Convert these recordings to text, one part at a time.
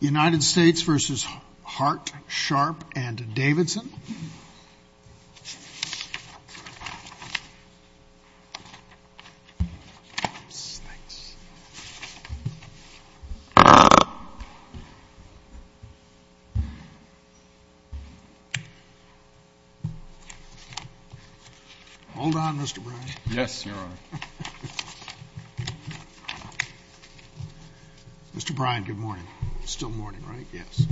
United States v. Hart, Sharpe, and Davidson. Hold on, Mr. Bryan. Yes, Your Honor. Mr. Bryan, good morning. It's still morning, right? Yes.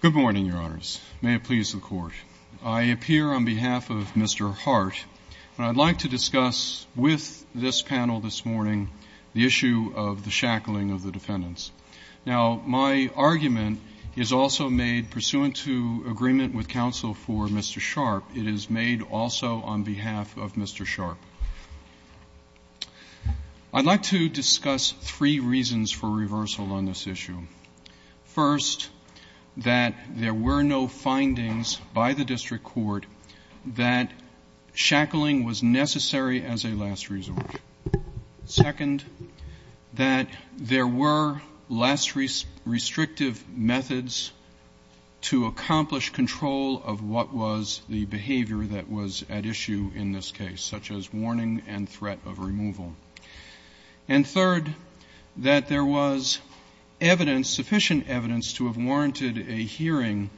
Good morning, Your Honors. May it please the Court. I appear on behalf of Mr. Hart, and I'd like to discuss with this panel this morning the issue of the shackling of the defendants. Now, my argument is also made pursuant to agreement with counsel for Mr. Sharpe. It is made also on behalf of Mr. Sharpe. I'd like to discuss three reasons for reversal on this issue. First, that there were no findings by the district court that shackling was necessary as a last resort. Second, that there were less restrictive methods to accomplish control of what was the behavior that was at issue in this case, such as warning and threat of removal. And third, that there was evidence, sufficient evidence, to have warranted a hearing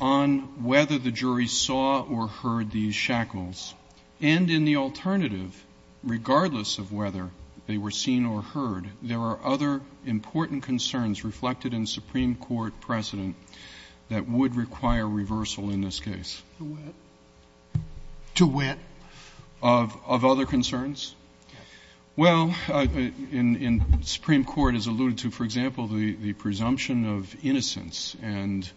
on whether the jury saw or heard these shackles. And in the alternative, regardless of whether they were seen or heard, there are other important concerns reflected in Supreme Court precedent that would require reversal in this case. To wit? To wit. Of other concerns? Yes. Well, in Supreme Court, as alluded to, for example, the presumption of innocence. And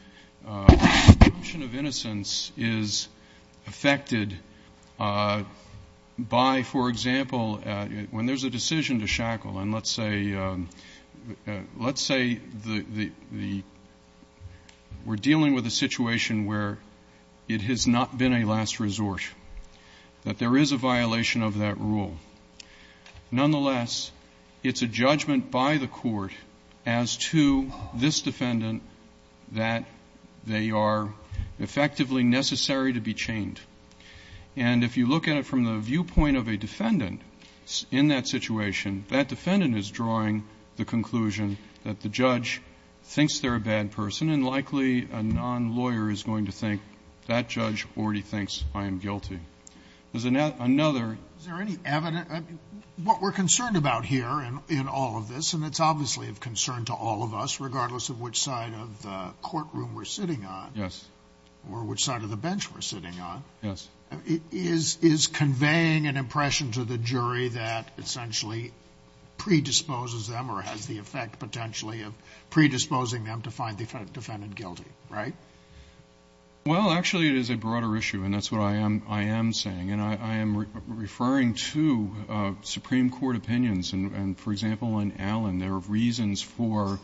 the presumption of innocence is affected by, for example, when there's a decision to shackle, and let's say the we're dealing with a situation where it has not been a last resort, that there is a violation of that rule. Nonetheless, it's a judgment by the court as to this defendant that they are effectively necessary to be chained. And if you look at it from the viewpoint of a defendant in that situation, that defendant is drawing the conclusion that the judge thinks they're a bad person, and likely a non-lawyer is going to think that judge already thinks I am guilty. Is there any evidence? What we're concerned about here in all of this, and it's obviously of concern to all of us, regardless of which side of the courtroom we're sitting on, or which side of the bench we're sitting on, is conveying an impression to the jury that essentially predisposes them or has the effect potentially of predisposing them to find the defendant guilty, right? Well, actually, it is a broader issue, and that's what I am saying. And I am referring to Supreme Court opinions. And, for example, in Allen, there are reasons for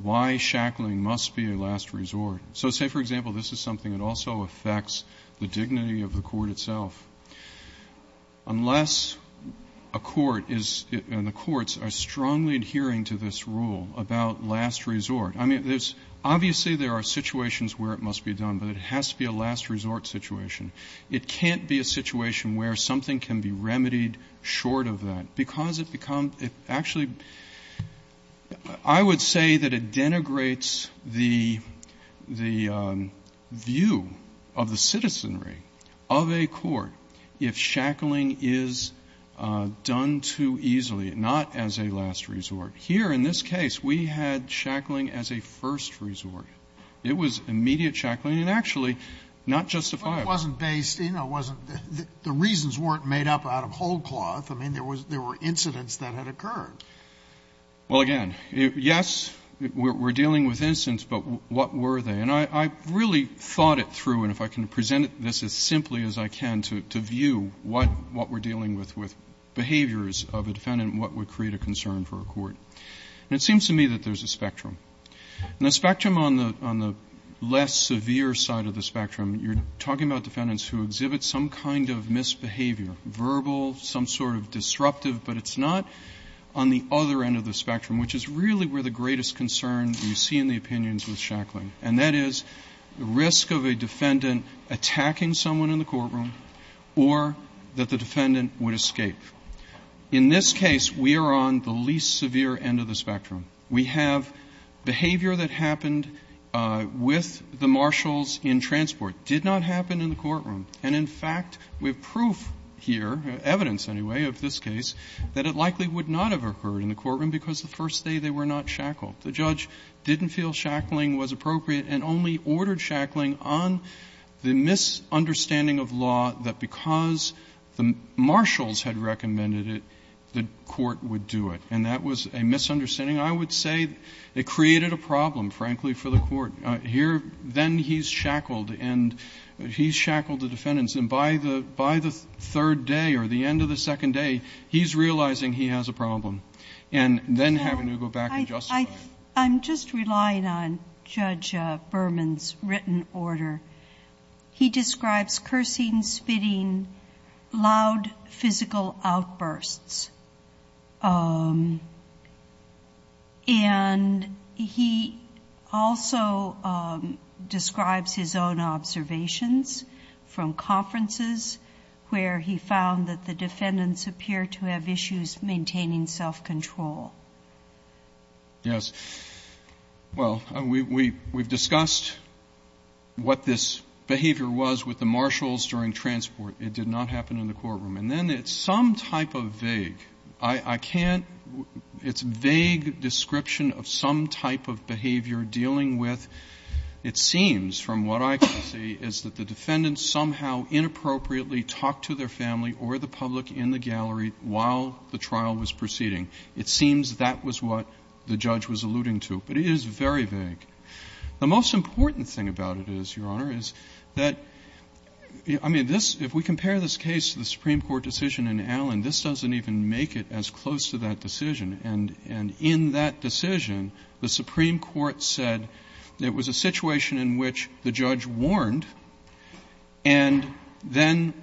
why shackling must be a last resort. So, say, for example, this is something that also affects the dignity of the court itself. Unless a court is – and the courts are strongly adhering to this rule about last resort, I mean, there's – obviously there are situations where it must be done, but it has to be a last resort situation. It can't be a situation where something can be remedied short of that. Because it becomes – it actually – I would say that it denigrates the view of the citizenry of a court if shackling is done too easily, not as a last resort. Here, in this case, we had shackling as a first resort. It was immediate shackling and actually not justifiable. But it wasn't based – you know, it wasn't – the reasons weren't made up out of whole cloth. I mean, there was – there were incidents that had occurred. Well, again, yes, we're dealing with incidents, but what were they? And I really thought it through, and if I can present this as simply as I can to view what we're dealing with with behaviors of a defendant, what would create a concern for a court. And it seems to me that there's a spectrum. And the spectrum on the less severe side of the spectrum, you're talking about defendants who exhibit some kind of misbehavior, verbal, some sort of disruptive, but it's not on the other end of the spectrum, which is really where the greatest concern you see in the opinions with shackling. And that is the risk of a defendant attacking someone in the courtroom or that the defendant would escape. In this case, we are on the least severe end of the spectrum. We have behavior that happened with the marshals in transport. It did not happen in the courtroom. And, in fact, we have proof here, evidence anyway, of this case, that it likely would not have occurred in the courtroom because the first day they were not shackled. The judge didn't feel shackling was appropriate and only ordered shackling on the misunderstanding of law that because the marshals had recommended it, the court would do it. And that was a misunderstanding. I would say it created a problem, frankly, for the court. Here, then he's shackled and he's shackled the defendants. And by the third day or the end of the second day, he's realizing he has a problem and then having to go back and justify it. I'm just relying on Judge Berman's written order. He describes cursing, spitting, loud physical outbursts. And he also describes his own observations from conferences where he found that the defendants appear to have issues maintaining self-control. Yes. Well, we've discussed what this behavior was with the marshals during transport. It did not happen in the courtroom. And then it's some type of vague. I can't – it's a vague description of some type of behavior dealing with, it seems from what I can see, is that the defendants somehow inappropriately talked to their family or the public in the gallery while the trial was proceeding. It seems that was what the judge was alluding to. But it is very vague. The most important thing about it is, Your Honor, is that – I mean, this – if we compare this case to the Supreme Court decision in Allen, this doesn't even make it as close to that decision. And in that decision, the Supreme Court said it was a situation in which the judge warned and then –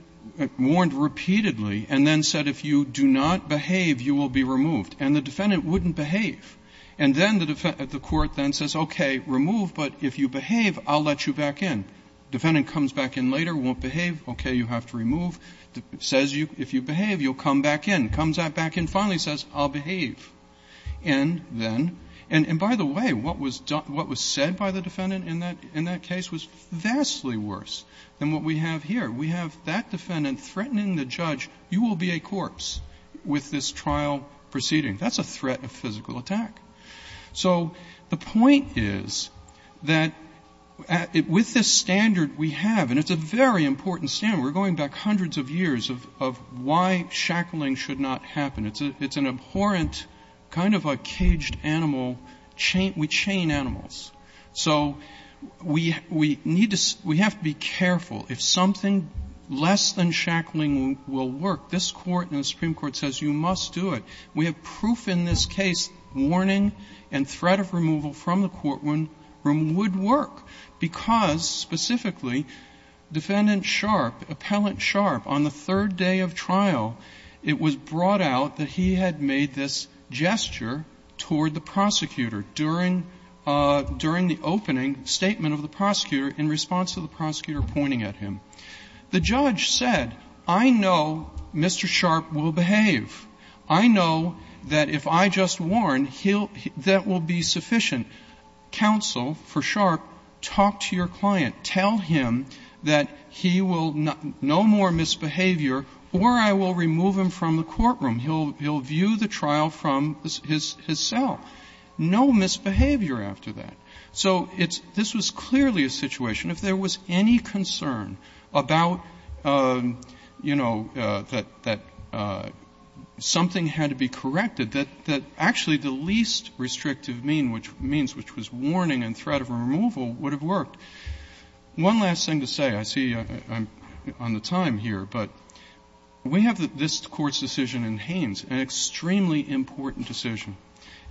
warned repeatedly and then said, if you do not behave, you will be removed. And the defendant wouldn't behave. And then the court then says, okay, remove, but if you behave, I'll let you back in. Defendant comes back in later, won't behave. Okay, you have to remove. Says, if you behave, you'll come back in. Comes back in finally, says, I'll behave. And then – and by the way, what was said by the defendant in that case was vastly worse than what we have here. We have that defendant threatening the judge, you will be a corpse with this trial proceeding. That's a threat of physical attack. So the point is that with this standard we have – and it's a very important standard. We're going back hundreds of years of why shackling should not happen. It's an abhorrent kind of a caged animal. We chain animals. So we need to – we have to be careful. If something less than shackling will work, this Court and the Supreme Court says you must do it. We have proof in this case, warning and threat of removal from the courtroom would work because specifically, Defendant Sharp, Appellant Sharp, on the third day of trial, it was brought out that he had made this gesture toward the prosecutor during the opening statement of the prosecutor in response to the prosecutor pointing at him. The judge said, I know Mr. Sharp will behave. I know that if I just warn, that will be sufficient. Counsel for Sharp, talk to your client. Tell him that he will – no more misbehavior or I will remove him from the courtroom. He'll view the trial from his cell. No misbehavior after that. So it's – this was clearly a situation, if there was any concern about, you know, that something had to be corrected, that actually the least restrictive means, which was warning and threat of removal, would have worked. One last thing to say. I see I'm on the time here. But we have this Court's decision in Haynes, an extremely important decision.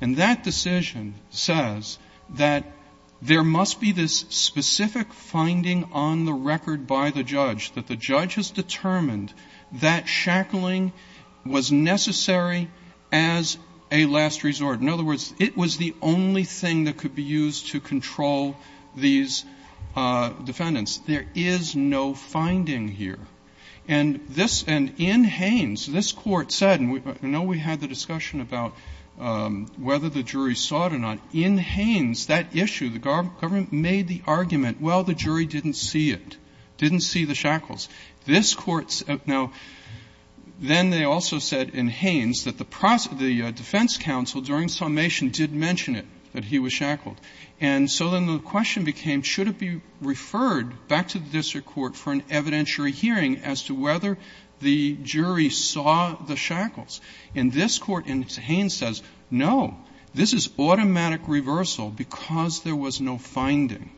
And that decision says that there must be this specific finding on the record by the judge, that the judge has determined that shackling was necessary as a last resort. In other words, it was the only thing that could be used to control these defendants. There is no finding here. And this – and in Haynes, this Court said – and I know we had the discussion about whether the jury saw it or not. In Haynes, that issue, the government made the argument, well, the jury didn't see it, didn't see the shackles. This Court – now, then they also said in Haynes that the defense counsel during the summation did mention it, that he was shackled. And so then the question became, should it be referred back to the district court for an evidentiary hearing as to whether the jury saw the shackles? And this Court in Haynes says, no, this is automatic reversal because there was no finding.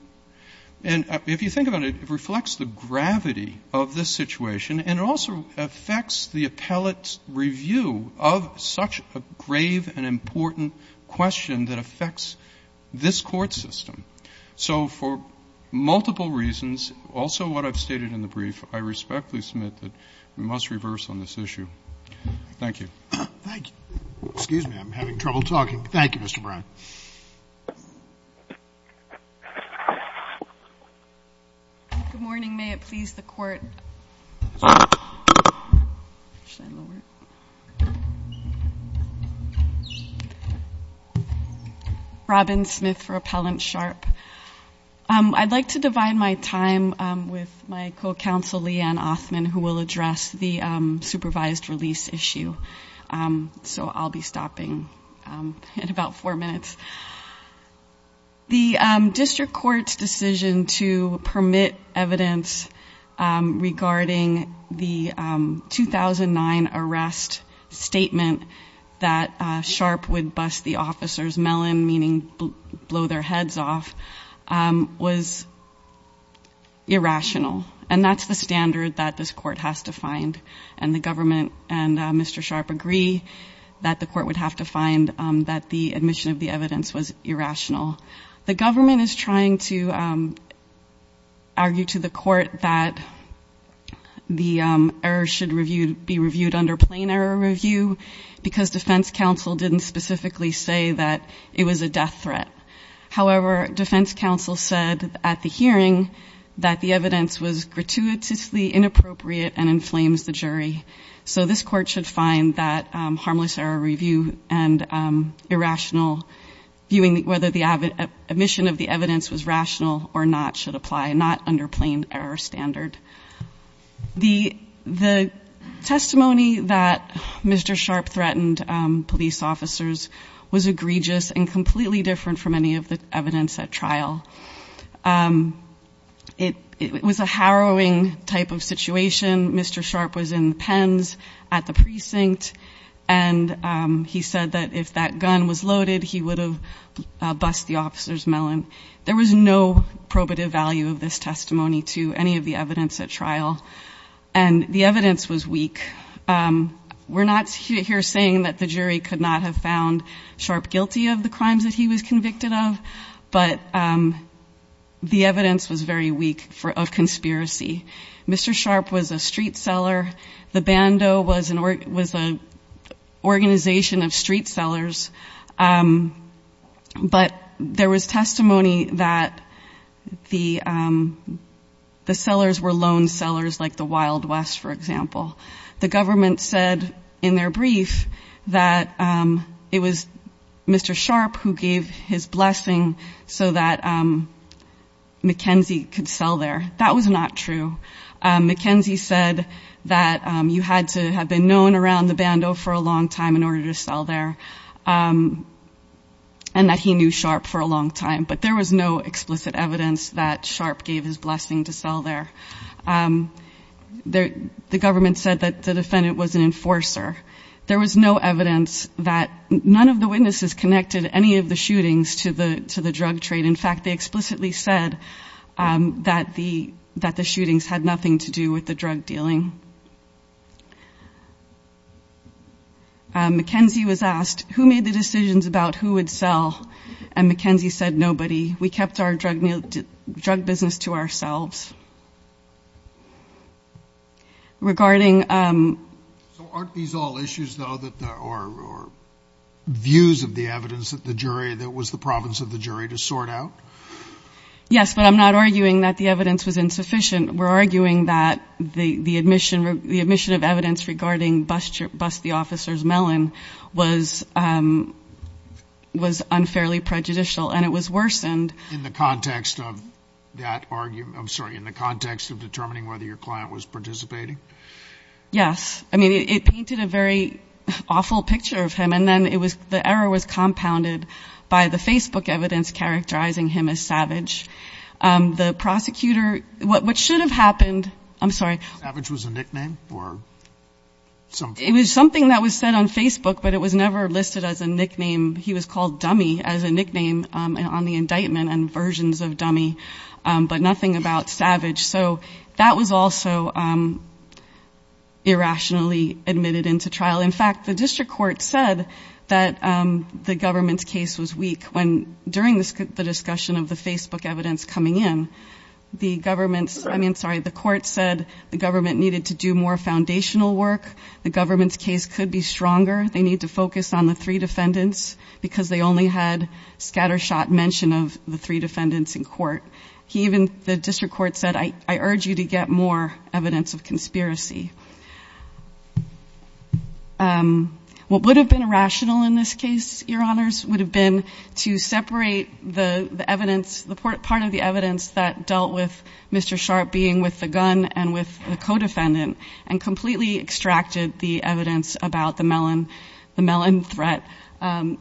And if you think about it, it reflects the gravity of this situation, and it also affects the appellate's review of such a grave and important question that affects this Court system. So for multiple reasons, also what I've stated in the brief, I respectfully submit that we must reverse on this issue. Thank you. Thank you. Excuse me. I'm having trouble talking. Thank you, Mr. Brown. Good morning. Good morning. May it please the Court. Robin Smith for Appellant Sharp. I'd like to divide my time with my co-counsel, Leigh Ann Othman, who will address the supervised release issue. So I'll be stopping in about four minutes. The district court's decision to permit evidence regarding the 2009 arrest statement that Sharp would bust the officer's melon, meaning blow their heads off, was irrational. And that's the standard that this Court has to find. And the government and Mr. Sharp agree that the Court would have to find that the admission of the evidence was irrational. The government is trying to argue to the Court that the error should be reviewed under plain error review because defense counsel didn't specifically say that it was a death threat. However, defense counsel said at the hearing that the evidence was gratuitously inappropriate and inflames the jury. So this Court should find that harmless error review and irrational viewing whether the admission of the evidence was rational or not should apply, not under plain error standard. The testimony that Mr. Sharp threatened police officers was egregious and completely different from any of the evidence at trial. It was a harrowing type of situation. Mr. Sharp was in the pens at the precinct, and he said that if that gun was loaded, he would have bust the officer's melon. There was no probative value of this testimony to any of the evidence at trial. And the evidence was weak. We're not here saying that the jury could not have found Sharp guilty of the crimes that he was convicted of, but the evidence was very weak of conspiracy. Mr. Sharp was a street seller. The Bando was an organization of street sellers. But there was testimony that the sellers were loan sellers like the Wild West, for example. The government said in their brief that it was Mr. Sharp who gave his blessing so that McKenzie could sell there. That was not true. McKenzie said that you had to have been known around the Bando for a long time in order to sell there, and that he knew Sharp for a long time. But there was no explicit evidence that Sharp gave his blessing to sell there. The government said that the defendant was an enforcer. There was no evidence that none of the witnesses connected any of the shootings to the drug trade. And, in fact, they explicitly said that the shootings had nothing to do with the drug dealing. McKenzie was asked who made the decisions about who would sell, and McKenzie said nobody. We kept our drug business to ourselves. So aren't these all issues, though, or views of the evidence that the jury, to sort out? Yes, but I'm not arguing that the evidence was insufficient. We're arguing that the admission of evidence regarding Bust the Officer's Melon was unfairly prejudicial, and it was worsened. In the context of that argument, I'm sorry, in the context of determining whether your client was participating? I mean, it painted a very awful picture of him, and then the error was compounded by the Facebook evidence characterizing him as Savage. The prosecutor, what should have happened, I'm sorry. Savage was a nickname or something? It was something that was said on Facebook, but it was never listed as a nickname. He was called Dummy as a nickname on the indictment and versions of Dummy, but nothing about Savage. So that was also irrationally admitted into trial. In fact, the district court said that the government's case was weak when during the discussion of the Facebook evidence coming in, the government's, I mean, sorry, the court said the government needed to do more foundational work. The government's case could be stronger. They need to focus on the three defendants because they only had scattershot mention of the three defendants in court. The district court said, I urge you to get more evidence of conspiracy. What would have been irrational in this case, Your Honors, would have been to separate the evidence, the part of the evidence that dealt with Mr. Sharp being with the gun and with the co-defendant and completely extracted the evidence about the Mellon threat.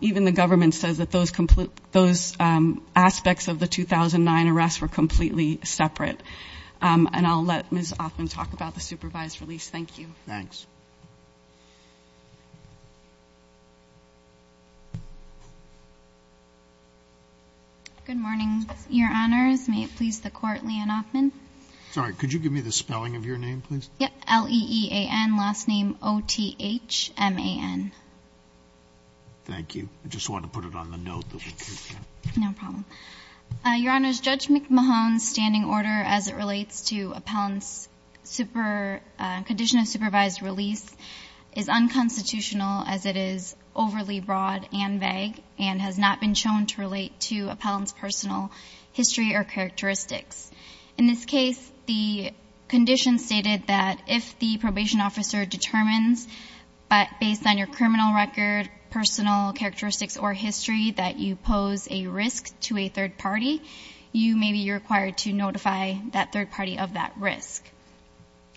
Even the government says that those aspects of the 2009 arrests were completely separate. And I'll let Ms. Offman talk about the supervised release. Thank you. Thanks. Good morning, Your Honors. May it please the court, Leanne Offman. Sorry, could you give me the spelling of your name, please? Yep. L-E-E-A-N. Last name O-T-H-M-A-N. Thank you. I just wanted to put it on the note. No problem. Your Honors, Judge McMahon's standing order as it relates to appellant's condition of supervised release is unconstitutional as it is overly broad and vague and has not been shown to relate to appellant's personal history or characteristics. In this case, the condition stated that if the probation officer determines based on your criminal record, personal characteristics, or history that you pose a risk to a third party, you may be required to notify that third party of that risk.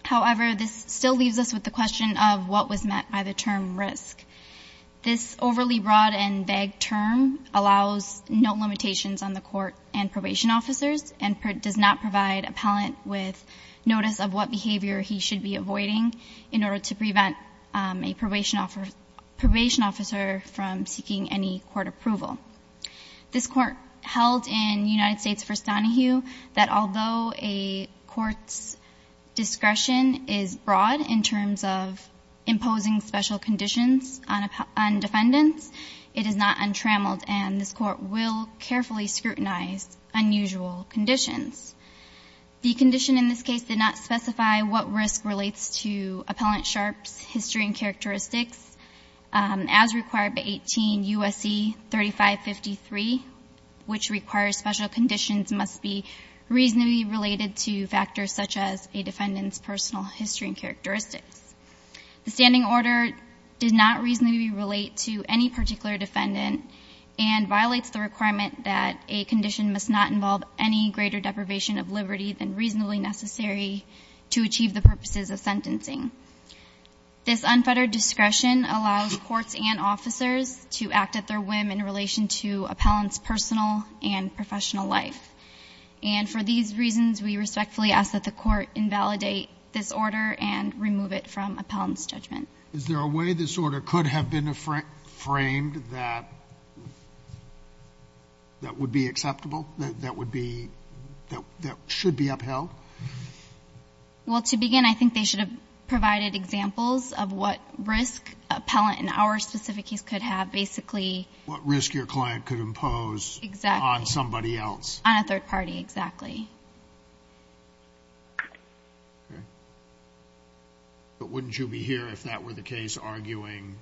However, this still leaves us with the question of what was met by the term risk. This overly broad and vague term allows no limitations on the court and probation officers and does not provide appellant with notice of what behavior he should be avoiding in order to prevent a probation officer from seeking any court approval. This court held in United States v. Donahue that although a court's discretion is broad in terms of imposing special conditions on defendants, it is not untrammeled and this court will carefully scrutinize unusual conditions. The condition in this case did not specify what risk relates to appellant 3553, which requires special conditions must be reasonably related to factors such as a defendant's personal history and characteristics. The standing order did not reasonably relate to any particular defendant and violates the requirement that a condition must not involve any greater deprivation of liberty than reasonably necessary to achieve the purposes of sentencing. This unfettered discretion allows courts and officers to act at their whim in relation to appellant's personal and professional life. And for these reasons, we respectfully ask that the court invalidate this order and remove it from appellant's judgment. Is there a way this order could have been framed that would be acceptable, that would be, that should be upheld? Well, to begin, I think they should have provided examples of what risk appellant in our specific case could have, basically. What risk your client could impose. Exactly. On somebody else. On a third party, exactly. Okay. But wouldn't you be here if that were the case, arguing,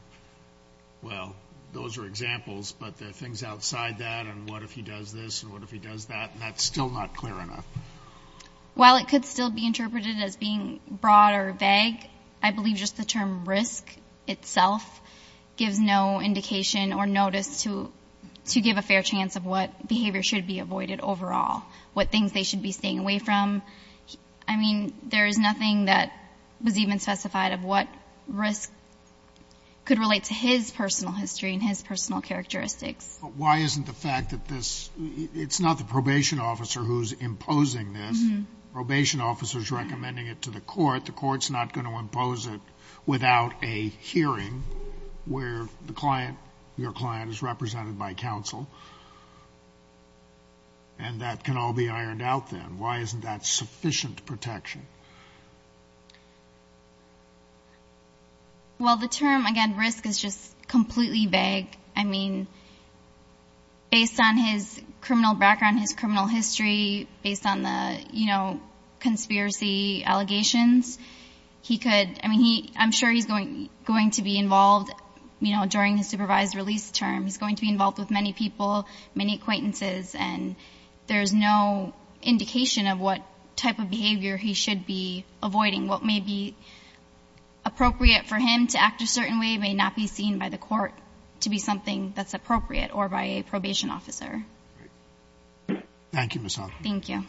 well, those are examples, but there are things outside that and what if he does this and what if he does that, and that's still not clear enough? While it could still be interpreted as being broad or vague, I believe just the term risk itself gives no indication or notice to give a fair chance of what behavior should be avoided overall, what things they should be staying away from. I mean, there is nothing that was even specified of what risk could relate to his personal history and his personal characteristics. But why isn't the fact that this, it's not the probation officer who's imposing this. Probation officer's recommending it to the court. The court's not going to impose it without a hearing where the client, your client is represented by counsel, and that can all be ironed out then. Why isn't that sufficient protection? Well, the term, again, risk is just completely vague. I mean, based on his criminal background, his criminal history, based on the conspiracy allegations, he could, I mean, I'm sure he's going to be involved during his supervised release term. He's going to be involved with many people, many acquaintances, and there's no indication of what type of behavior he should be avoiding. What may be appropriate for him to act a certain way may not be seen by the court to be something that's appropriate or by a probation officer. Thank you, Ms. Hoffman. Thank you.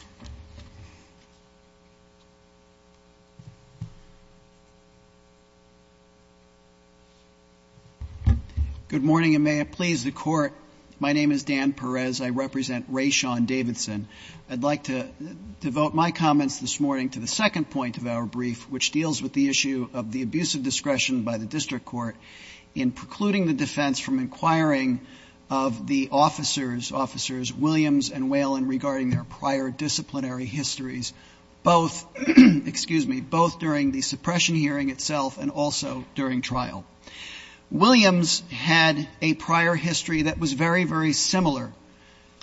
Good morning, and may it please the Court. My name is Dan Perez. I represent Ray Sean Davidson. I'd like to devote my comments this morning to the second point of our brief, which deals with the issue of the abuse of discretion by the district court in precluding the defense from inquiring of the officers, officers Williams and Whalen, regarding their prior disciplinary histories, both, excuse me, both during the suppression hearing itself and also during trial. Williams had a prior history that was very, very similar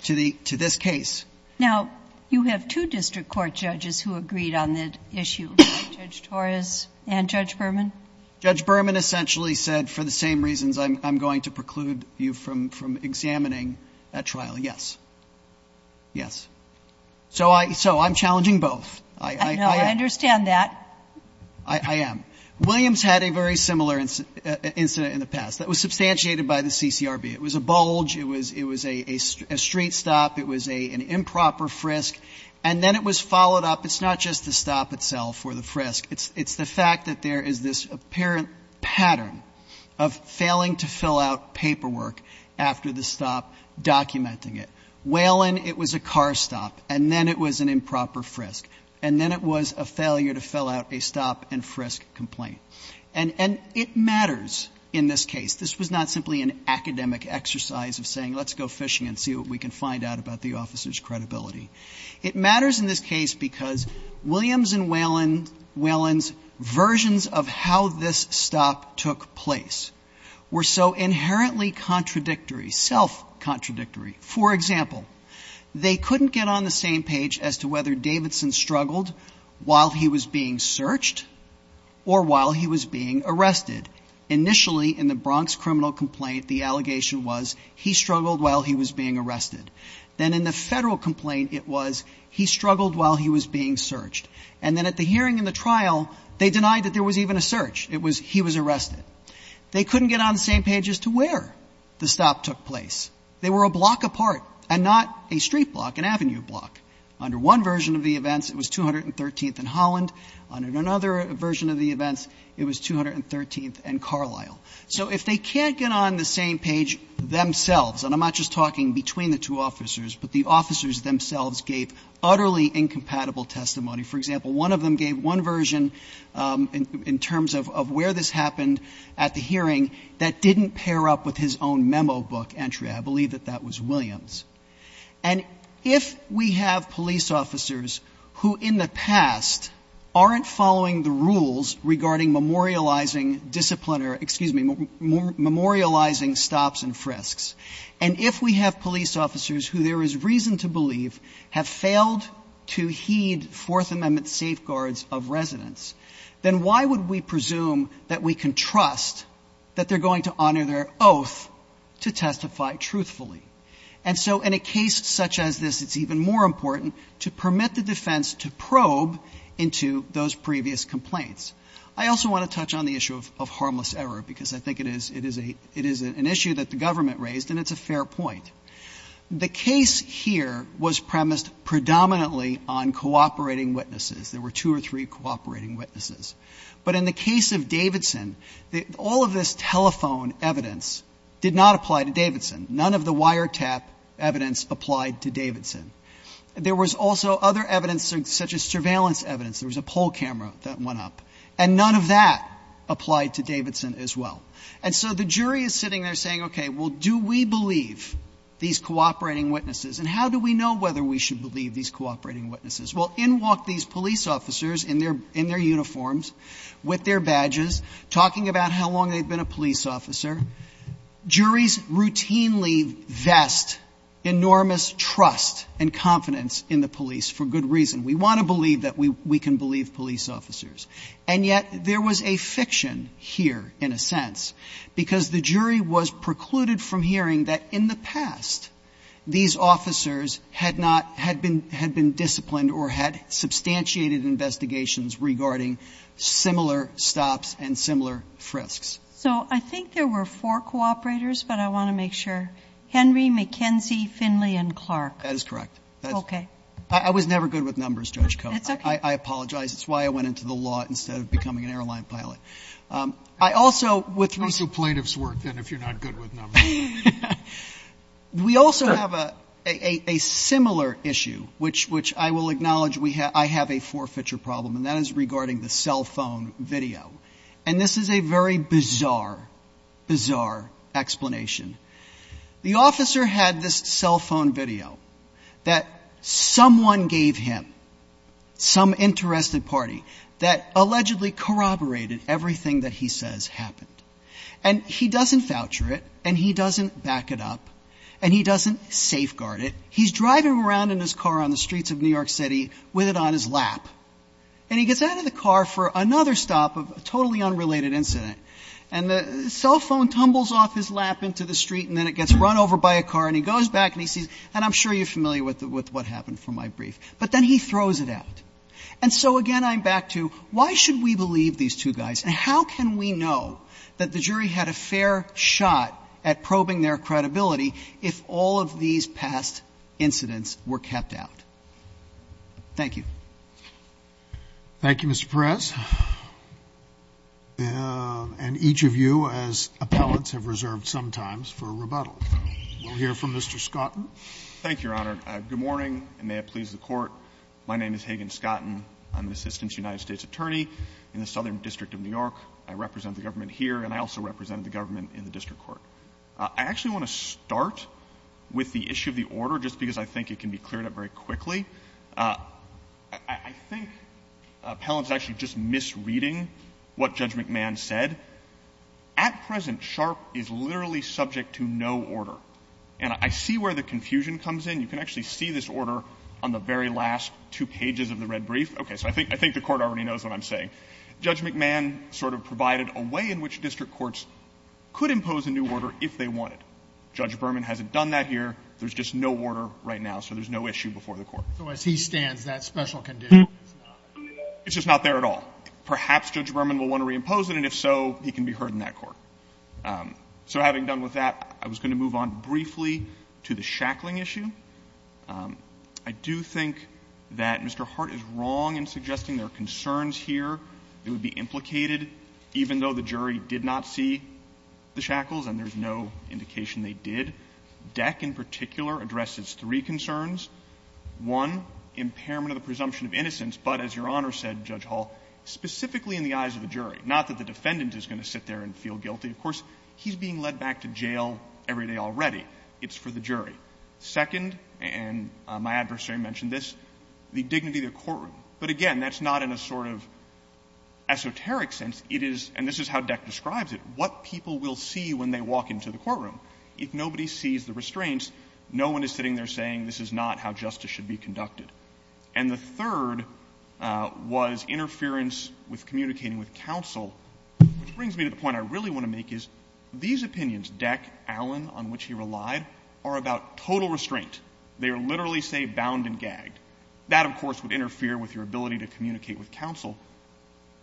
to this case. Now, you have two district court judges who agreed on the issue, Judge Torres and Judge Berman. Judge Berman essentially said, for the same reasons I'm going to preclude you from examining at trial. Yes. Yes. So I'm challenging both. I understand that. I am. Williams had a very similar incident in the past that was substantiated by the CCRB. It was a bulge. It was a street stop. It was an improper frisk. And then it was followed up. It's not just the stop itself or the frisk. It's the fact that there is this apparent pattern of failing to fill out paperwork after the stop documenting it. Whalen, it was a car stop. And then it was an improper frisk. And then it was a failure to fill out a stop and frisk complaint. And it matters in this case. This was not simply an academic exercise of saying let's go fishing and see what we can find out about the officer's credibility. It matters in this case because Williams and Whalen's versions of how this stop took place were so inherently contradictory, self-contradictory. For example, they couldn't get on the same page as to whether Davidson struggled while he was being searched or while he was being arrested. Initially, in the Bronx criminal complaint, the allegation was he struggled while he was being arrested. Then in the Federal complaint, it was he struggled while he was being searched. And then at the hearing and the trial, they denied that there was even a search. It was he was arrested. They couldn't get on the same page as to where the stop took place. They were a block apart and not a street block, an avenue block. Under one version of the events, it was 213th and Holland. Under another version of the events, it was 213th and Carlisle. So if they can't get on the same page themselves, and I'm not just talking between the two officers, but the officers themselves gave utterly incompatible testimony, for example, one of them gave one version in terms of where this happened at the hearing that didn't pair up with his own memo book entry. I believe that that was Williams. And if we have police officers who in the past aren't following the rules regarding memorializing disciplinary or, excuse me, memorializing stops and frisks, and if we have police officers who there is reason to believe have failed to heed Fourth Amendment safeguards of residence, then why would we presume that we can trust that they're going to honor their oath to testify truthfully? And so in a case such as this, it's even more important to permit the defense to probe into those previous complaints. I also want to touch on the issue of harmless error, because I think it is an issue that the government raised, and it's a fair point. The case here was premised predominantly on cooperating witnesses. There were two or three cooperating witnesses. But in the case of Davidson, all of this telephone evidence did not apply to Davidson. None of the wiretap evidence applied to Davidson. There was also other evidence such as surveillance evidence. There was a poll camera that went up. And none of that applied to Davidson as well. And so the jury is sitting there saying, okay, well, do we believe these cooperating witnesses? And how do we know whether we should believe these cooperating witnesses? Well, in walk these police officers in their uniforms, with their badges, talking about how long they've been a police officer. Juries routinely vest enormous trust and confidence in the police for good reason. We want to believe that we can believe police officers. And yet there was a fiction here, in a sense, because the jury was precluded from hearing that in the past, these officers had not, had been disciplined or had substantiated investigations regarding similar stops and similar frisks. So I think there were four cooperators, but I want to make sure. Henry, McKenzie, Finley, and Clark. That is correct. Okay. I was never good with numbers, Judge Koh. I apologize. It's why I went into the law instead of becoming an airline pilot. I also, with reason to. Let's do plaintiff's work, then, if you're not good with numbers. We also have a similar issue, which I will acknowledge I have a forfeiture problem, and that is regarding the cell phone video. And this is a very bizarre, bizarre explanation. The officer had this cell phone video that someone gave him, some interested party, that allegedly corroborated everything that he says happened. And he doesn't voucher it, and he doesn't back it up, and he doesn't safeguard it. He's driving around in his car on the streets of New York City with it on his lap, and he gets out of the car for another stop of a totally unrelated incident, and the cell phone tumbles off his lap into the street, and then it gets run over by a car, and he goes back, and he sees, and I'm sure you're familiar with what happened from my brief. But then he throws it out. And so, again, I'm back to why should we believe these two guys, and how can we know that the jury had a fair shot at probing their credibility if all of these past incidents were kept out? Thank you. Thank you, Mr. Perez. And each of you, as appellants, have reserved some time for rebuttal. We'll hear from Mr. Scotton. Thank you, Your Honor. Good morning, and may it please the Court. My name is Hagen Scotton. I'm an assistant United States attorney in the Southern District of New York. I represent the government here, and I also represent the government in the district court. I actually want to start with the issue of the order, just because I think it can be cleared up very quickly. I think appellants are actually just misreading what Judge McMahon said. At present, Sharp is literally subject to no order. And I see where the confusion comes in. You can actually see this order on the very last two pages of the red brief. Okay. So I think the Court already knows what I'm saying. Judge McMahon sort of provided a way in which district courts could impose a new order if they wanted. Judge Berman hasn't done that here. There's just no order right now, so there's no issue before the Court. So as he stands, that special condition is not? It's just not there at all. Perhaps Judge Berman will want to reimpose it, and if so, he can be heard in that court. So having done with that, I was going to move on briefly to the shackling issue. I do think that Mr. Hart is wrong in suggesting there are concerns here that would be implicated, even though the jury did not see the shackles and there's no indication they did. Deck, in particular, addresses three concerns. One, impairment of the presumption of innocence, but as Your Honor said, Judge Hall, specifically in the eyes of the jury, not that the defendant is going to sit there and feel guilty. Of course, he's being led back to jail every day already. It's for the jury. Second, and my adversary mentioned this, the dignity of the courtroom. But again, that's not in a sort of esoteric sense. It is, and this is how Deck describes it, what people will see when they walk into the courtroom. If nobody sees the restraints, no one is sitting there saying this is not how justice should be conducted. And the third was interference with communicating with counsel, which brings me to the point I really want to make is these opinions, Deck, Allen, on which he relied, are about total restraint. They are literally, say, bound and gagged. That, of course, would interfere with your ability to communicate with counsel.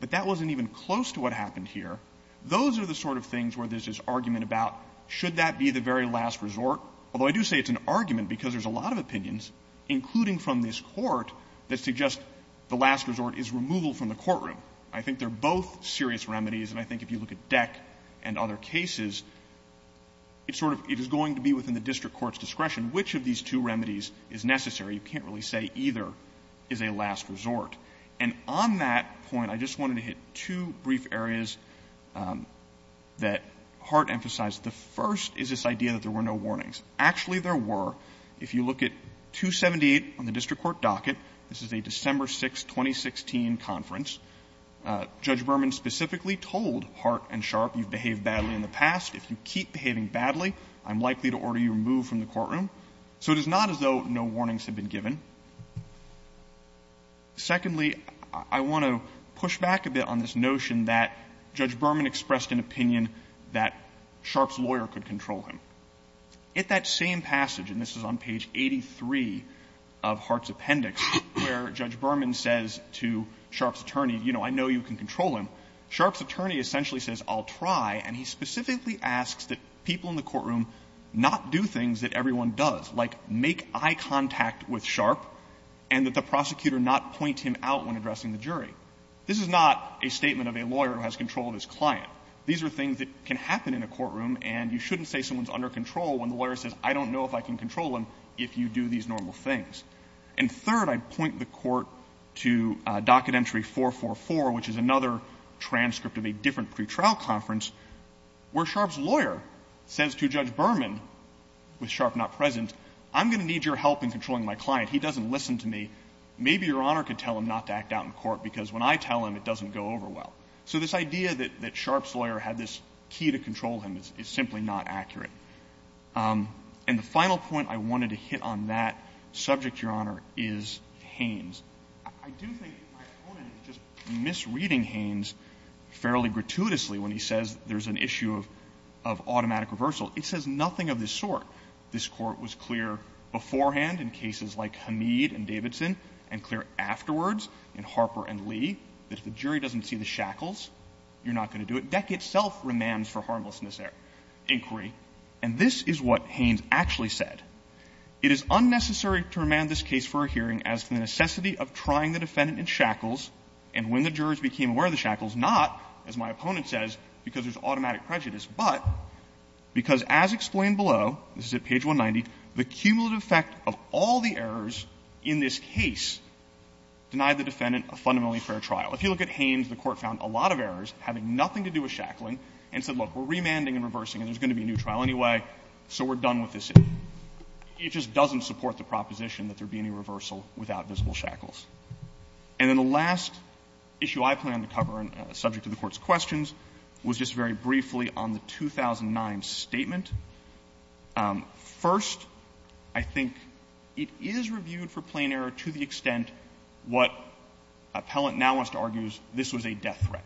But that wasn't even close to what happened here. Those are the sort of things where there's this argument about, should that be the very last resort, although I do say it's an argument because there's a lot of opinions, including from this Court, that suggest the last resort is removal from the courtroom. I think they're both serious remedies. And I think if you look at Deck and other cases, it's sort of, it is going to be within the district court's discretion which of these two remedies is necessary. You can't really say either is a last resort. And on that point, I just wanted to hit two brief areas that Hart emphasized. The first is this idea that there were no warnings. Actually, there were. If you look at 278 on the district court docket, this is a December 6, 2016 conference. Judge Berman specifically told Hart and Sharp, you've behaved badly in the past. If you keep behaving badly, I'm likely to order you removed from the courtroom. So it is not as though no warnings have been given. Secondly, I want to push back a bit on this notion that Judge Berman expressed an opinion that Sharp's lawyer could control him. At that same passage, and this is on page 83 of Hart's appendix, where Judge Berman says to Sharp's attorney, you know, I know you can control him. Sharp's attorney essentially says, I'll try. And he specifically asks that people in the courtroom not do things that everyone does, like make eye contact with Sharp, and that the prosecutor not point him out when addressing the jury. This is not a statement of a lawyer who has control of his client. These are things that can happen in a courtroom, and you shouldn't say someone's under control when the lawyer says, I don't know if I can control him, if you do these normal things. And third, I point the Court to Docket Entry 444, which is another transcript of a different pretrial conference, where Sharp's lawyer says to Judge Berman, with Sharp not present, I'm going to need your help in controlling my client. He doesn't listen to me. Maybe Your Honor can tell him not to act out in court, because when I tell him, it doesn't go over well. So this idea that Sharp's lawyer had this key to control him is simply not accurate. And the final point I wanted to hit on that subject, Your Honor, is Haynes. I do think my opponent is just misreading Haynes fairly gratuitously when he says there's an issue of automatic reversal. It says nothing of this sort. This Court was clear beforehand in cases like Hamid and Davidson, and clear afterwards in Harper and Lee, that if the jury doesn't see the shackles, you're not going to do it. DEC itself remands for harmlessness inquiry. And this is what Haynes actually said. It is unnecessary to remand this case for a hearing as to the necessity of trying the defendant in shackles, and when the jurors became aware of the shackles, not, as my opponent says, because there's automatic prejudice, but because as explained below, this is at page 190, the cumulative effect of all the errors in this case denied the defendant a fundamentally fair trial. If you look at Haynes, the Court found a lot of errors having nothing to do with shackling and said, look, we're remanding and reversing and there's going to be a new trial anyway, so we're done with this issue. It just doesn't support the proposition that there be any reversal without visible shackles. And then the last issue I plan to cover, subject to the Court's questions, was just very briefly on the 2009 statement. First, I think it is reviewed for plain error to the extent what Appellant now wants to argue is this was a death threat.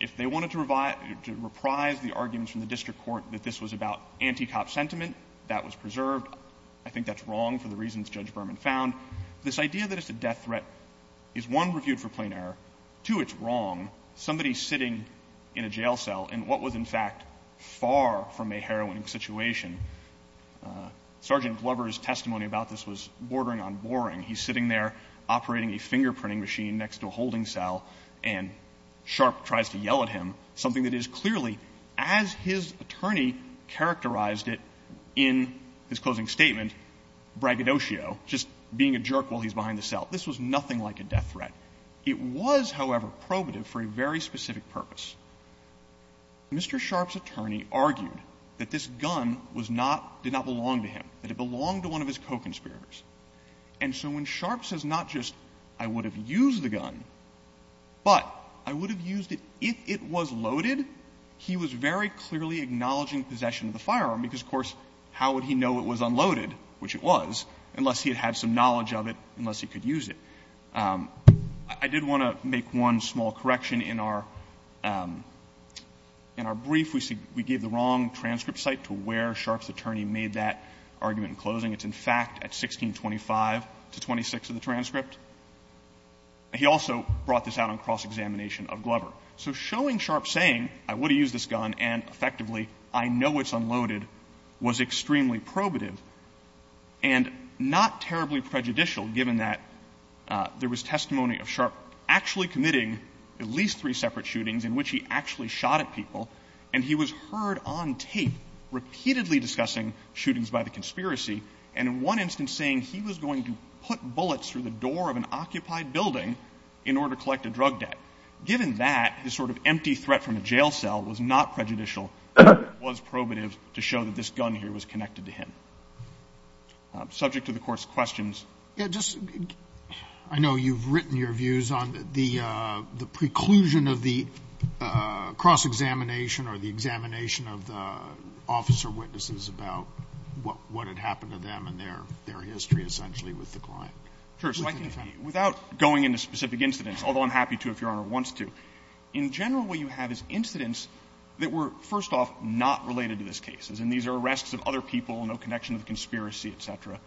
If they wanted to reprise the arguments from the district court that this was about anti-cop sentiment, that was preserved. I think that's wrong for the reasons Judge Berman found. This idea that it's a death threat is, one, reviewed for plain error. Two, it's wrong. Somebody sitting in a jail cell in what was, in fact, far from a heroine situation – Sergeant Glover's testimony about this was bordering on boring. He's sitting there operating a fingerprinting machine next to a holding cell and Sharp tries to yell at him, something that is clearly, as his attorney characterized it in his closing statement, braggadocio, just being a jerk while he's behind the cell. This was nothing like a death threat. It was, however, probative for a very specific purpose. Mr. Sharp's attorney argued that this gun was not – did not belong to him, that it belonged to one of his co-conspirators. And so when Sharp says not just I would have used the gun, but I would have used it if it was loaded, he was very clearly acknowledging possession of the firearm. Because, of course, how would he know it was unloaded, which it was, unless he had had some knowledge of it, unless he could use it. I did want to make one small correction in our – in our brief. We gave the wrong transcript site to where Sharp's attorney made that argument in closing. It's, in fact, at 1625 to 26 of the transcript. He also brought this out on cross-examination of Glover. So showing Sharp saying, I would have used this gun, and effectively, I know it's unloaded, was extremely probative and not terribly prejudicial, given that there was testimony of Sharp actually committing at least three separate shootings in which he actually shot at people, and he was heard on tape repeatedly discussing shootings by the conspiracy, and in one instance saying he was going to put bullets through the door of an occupied building in order to collect a drug debt. Given that, this sort of empty threat from a jail cell was not prejudicial, but it was probative to show that this gun here was connected to him. Subject to the Court's questions. Scalia. Yeah, just – I know you've written your views on the preclusion of the cross-examination or the examination of the officer witnesses about what had happened to them and their history, essentially, with the client. Sure. So I can, without going into specific incidents, although I'm happy to if Your Honor wants to, in general, what you have is incidents that were, first off, not related to this case, as in these are arrests of other people, no connection to the conspiracy, et cetera.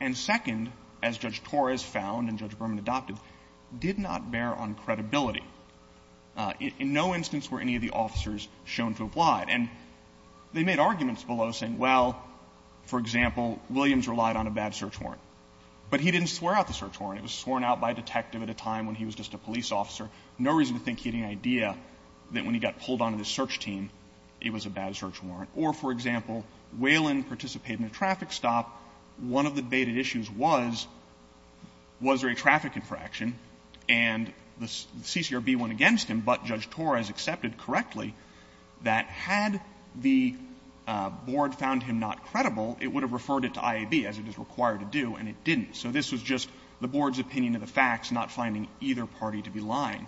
And second, as Judge Torres found and Judge Berman adopted, did not bear on credibility. In no instance were any of the officers shown to have lied. And they made arguments below saying, well, for example, Williams relied on a bad search warrant, but he didn't swear out the search warrant. It was sworn out by a detective at a time when he was just a police officer. No reason to think he had any idea that when he got pulled onto this search team, it was a bad search warrant. Or, for example, Whalen participated in a traffic stop. One of the debated issues was, was there a traffic infraction, and the CCRB went against him, but Judge Torres accepted correctly that had the board found him not to be lying. And so the board's opinion of the facts, not finding either party to be lying.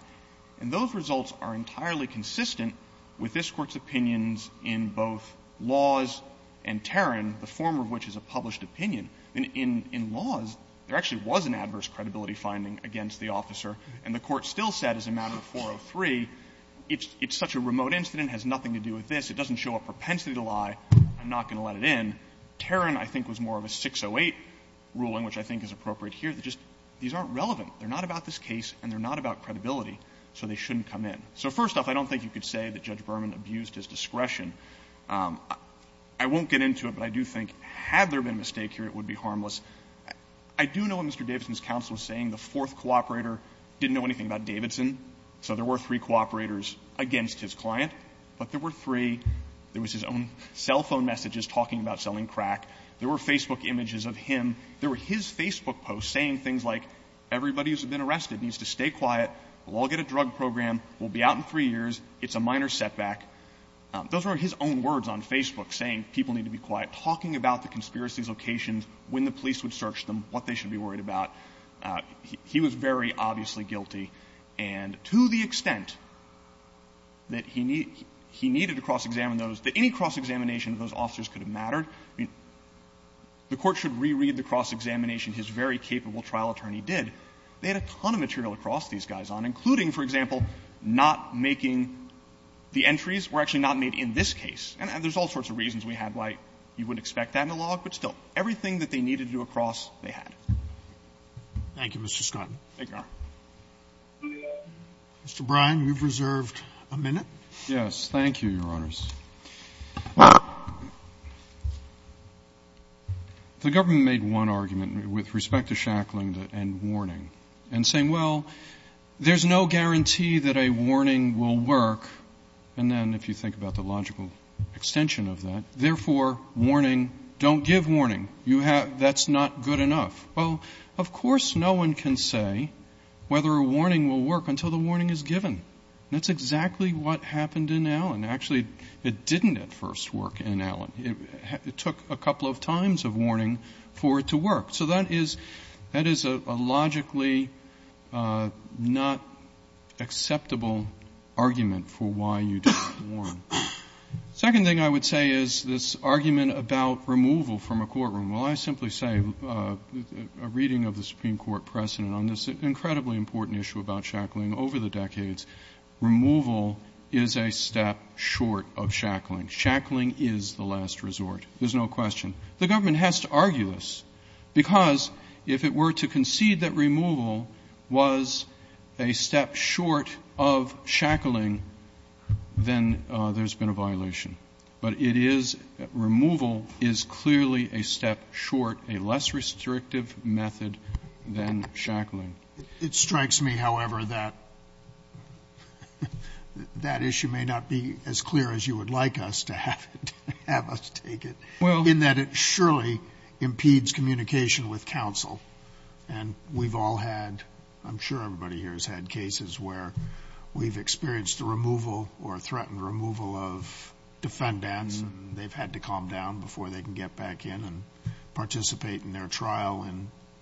And those results are entirely consistent with this Court's opinions in both Laws and Tarrant, the former of which is a published opinion. In Laws, there actually was an adverse credibility finding against the officer, and the Court still said as a matter of 403, it's such a remote incident, has nothing to do with this, it doesn't show a propensity to lie, I'm not going to let it in. Tarrant, I think, was more of a 608 ruling, which I think is appropriate here, that just, these aren't relevant, they're not about this case, and they're not about credibility, so they shouldn't come in. So first off, I don't think you could say that Judge Berman abused his discretion. I won't get into it, but I do think had there been a mistake here, it would be harmless. I do know what Mr. Davidson's counsel was saying. The fourth cooperator didn't know anything about Davidson, so there were three cooperators against his client, but there were three, there was his own cell phone messages talking about selling crack, there were Facebook images of him, there were his Facebook posts saying things like, everybody who's been arrested needs to stay quiet, we'll all get a drug program, we'll be out in three years, it's a minor setback. Those were his own words on Facebook, saying people need to be quiet, talking about the conspiracy's locations, when the police would search them, what they should be worried about. He was very obviously guilty, and to the extent that he needed to cross-examine those, that any cross-examination of those officers could have mattered, I mean, the Court should reread the cross-examination his very capable trial attorney did. They had a ton of material to cross these guys on, including, for example, not making the entries were actually not made in this case. And there's all sorts of reasons we had why you wouldn't expect that in a log, but still, everything that they needed to do a cross, they had. Thank you, Mr. Scott. Thank you, Your Honor. Mr. Brine, you've reserved a minute. Yes. Thank you, Your Honors. The government made one argument with respect to shackling and warning, and saying, well, there's no guarantee that a warning will work, and then, if you think about the logical extension of that, therefore, warning, don't give warning, you have, that's not good enough. Well, of course no one can say whether a warning will work until the warning is given. That's exactly what happened in Allen. Actually, it didn't at first work in Allen. It took a couple of times of warning for it to work. So that is a logically not acceptable argument for why you didn't warn. Second thing I would say is this argument about removal from a courtroom. Well, I simply say, a reading of the Supreme Court precedent on this incredibly important issue about shackling over the decades, removal is a step short of shackling. Shackling is the last resort. There's no question. The government has to argue this, because if it were to concede that removal was a step short of shackling, then there's been a violation. But it is removal is clearly a step short, a less restrictive method than shackling. It strikes me, however, that that issue may not be as clear as you would like us to have it, to have us take it, in that it surely impedes communication with counsel. And we've all had, I'm sure everybody here has had cases where we've experienced the removal or threatened removal of defendants, and they've had to calm down before they can get back in and participate in their trial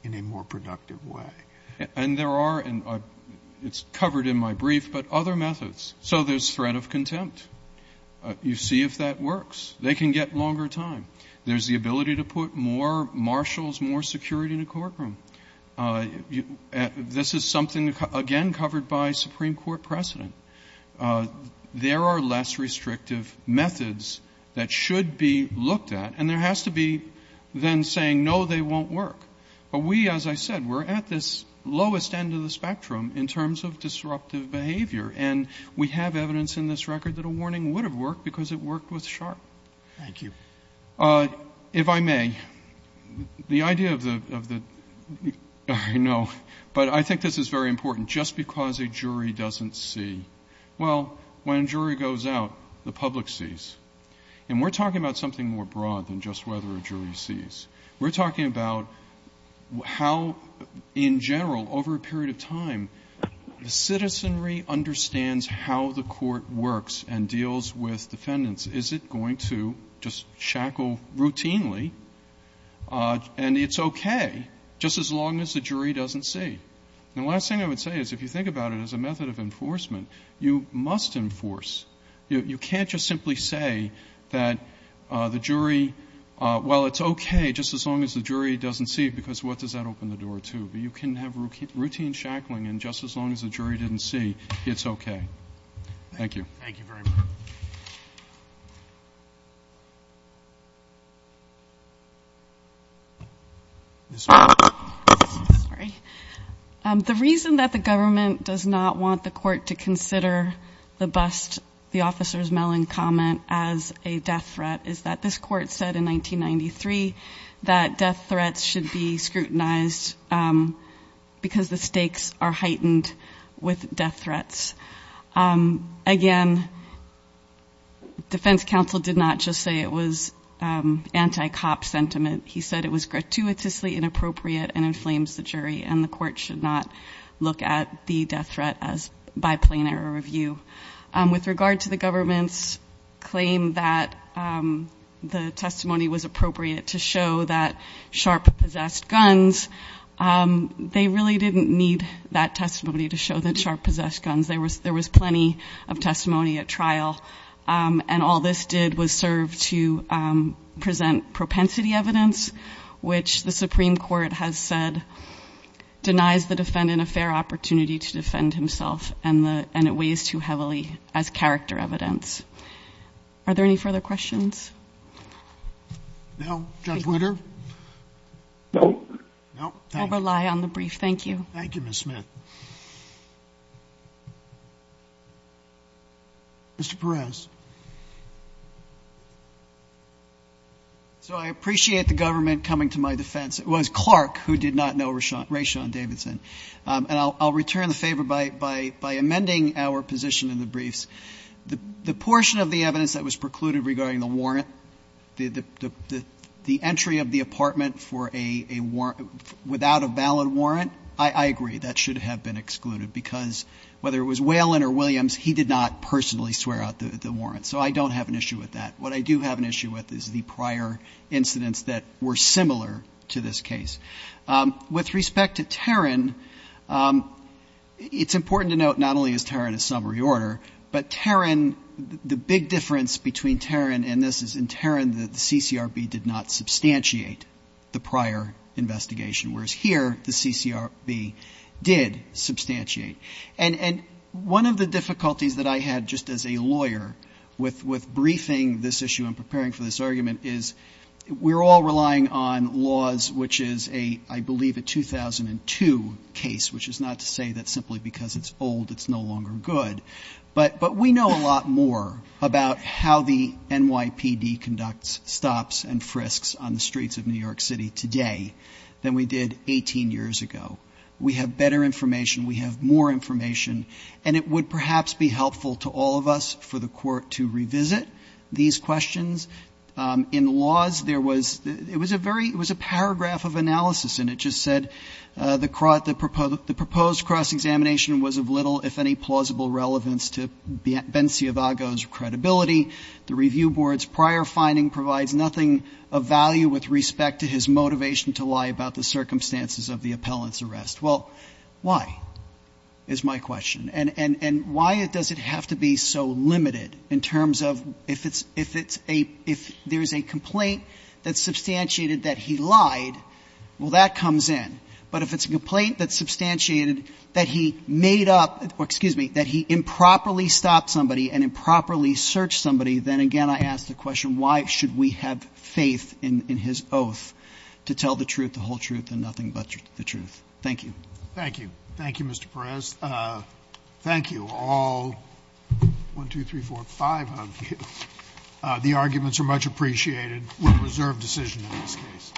in a more productive way. And there are, and it's covered in my brief, but other methods. So there's threat of contempt. You see if that works. They can get longer time. There's the ability to put more marshals, more security in a courtroom. This is something, again, covered by Supreme Court precedent. There are less restrictive methods that should be looked at, and there has to be then saying, no, they won't work. But we, as I said, we're at this lowest end of the spectrum in terms of disruptive behavior, and we have evidence in this record that a warning would have worked because it worked with Sharp. Thank you. If I may, the idea of the, I know, but I think this is very important. Just because a jury doesn't see, well, when a jury goes out, the public sees. And we're talking about something more broad than just whether a jury sees. We're talking about how, in general, over a period of time, the citizenry understands how the court works and deals with defendants. Is it going to just shackle routinely? And it's okay, just as long as the jury doesn't see. The last thing I would say is if you think about it as a method of enforcement, you must enforce. You can't just simply say that the jury, well, it's okay, just as long as the jury doesn't see it, because what does that open the door to? But you can have routine shackling, and just as long as the jury didn't see, it's okay. Thank you. Thank you very much. Ms. Miller. Sorry. The reason that the government does not want the court to consider the bust, the officer's melon comment as a death threat is that this court said in 1993 that death threats should be scrutinized because the stakes are heightened with death threats. Again, defense counsel did not just say it was anti-cop sentiment. He said it was gratuitously inappropriate and inflames the jury, and the court should not look at the death threat by plain error review. With regard to the government's claim that the testimony was appropriate to show that Sharp possessed guns, they really didn't need that testimony to show that Sharp possessed guns. There was plenty of testimony at trial, and all this did was serve to present propensity evidence, which the Supreme Court has said denies the defendant a fair opportunity to defend himself, and it weighs too heavily as character evidence. Are there any further questions? No. Judge Witter? No. No, thank you. I'll rely on the brief. Thank you. Thank you, Ms. Smith. Mr. Perez. So I appreciate the government coming to my defense. It was Clark who did not know Rayshon Davidson. And I'll return the favor by amending our position in the briefs. The portion of the evidence that was precluded regarding the warrant, the entry of the apartment without a valid warrant, I agree. That should have been excluded, because whether it was Whalen or Williams, he did not personally swear out the warrant. So I don't have an issue with that. What I do have an issue with is the prior incidents that were similar to this case. With respect to Tarrant, it's important to note not only is Tarrant a summary order, but Tarrant, the big difference between Tarrant and this is in Tarrant, the CCRB did not substantiate the prior investigation, whereas here, the CCRB did substantiate. And one of the difficulties that I had just as a lawyer with briefing this issue and preparing for this argument is we're all relying on laws which is a, I believe, a 2002 case, which is not to say that simply because it's old, it's no longer good. But we know a lot more about how the NYPD conducts stops and frisks on the streets of New York City today than we did 18 years ago. We have better information, we have more information, and it would perhaps be helpful to all of us for the court to revisit these questions. In laws, there was, it was a paragraph of analysis and it just said, the proposed cross-examination was of little, if any, plausible relevance to Ben Ciavago's credibility. The review board's prior finding provides nothing of value with respect to his motivation to lie about the circumstances of the appellant's arrest. Well, why, is my question. And why does it have to be so limited in terms of, if there's a complaint that's substantiated that he lied, well, that comes in. But if it's a complaint that's substantiated that he made up, excuse me, that he improperly stopped somebody and improperly searched somebody, then again, I ask the question, why should we have faith in his oath to tell the truth, the whole truth, and nothing but the truth? Thank you. Thank you. Thank you, Mr. Perez. Thank you, all, one, two, three, four, five of you. The arguments are much appreciated. We reserve decision in this case.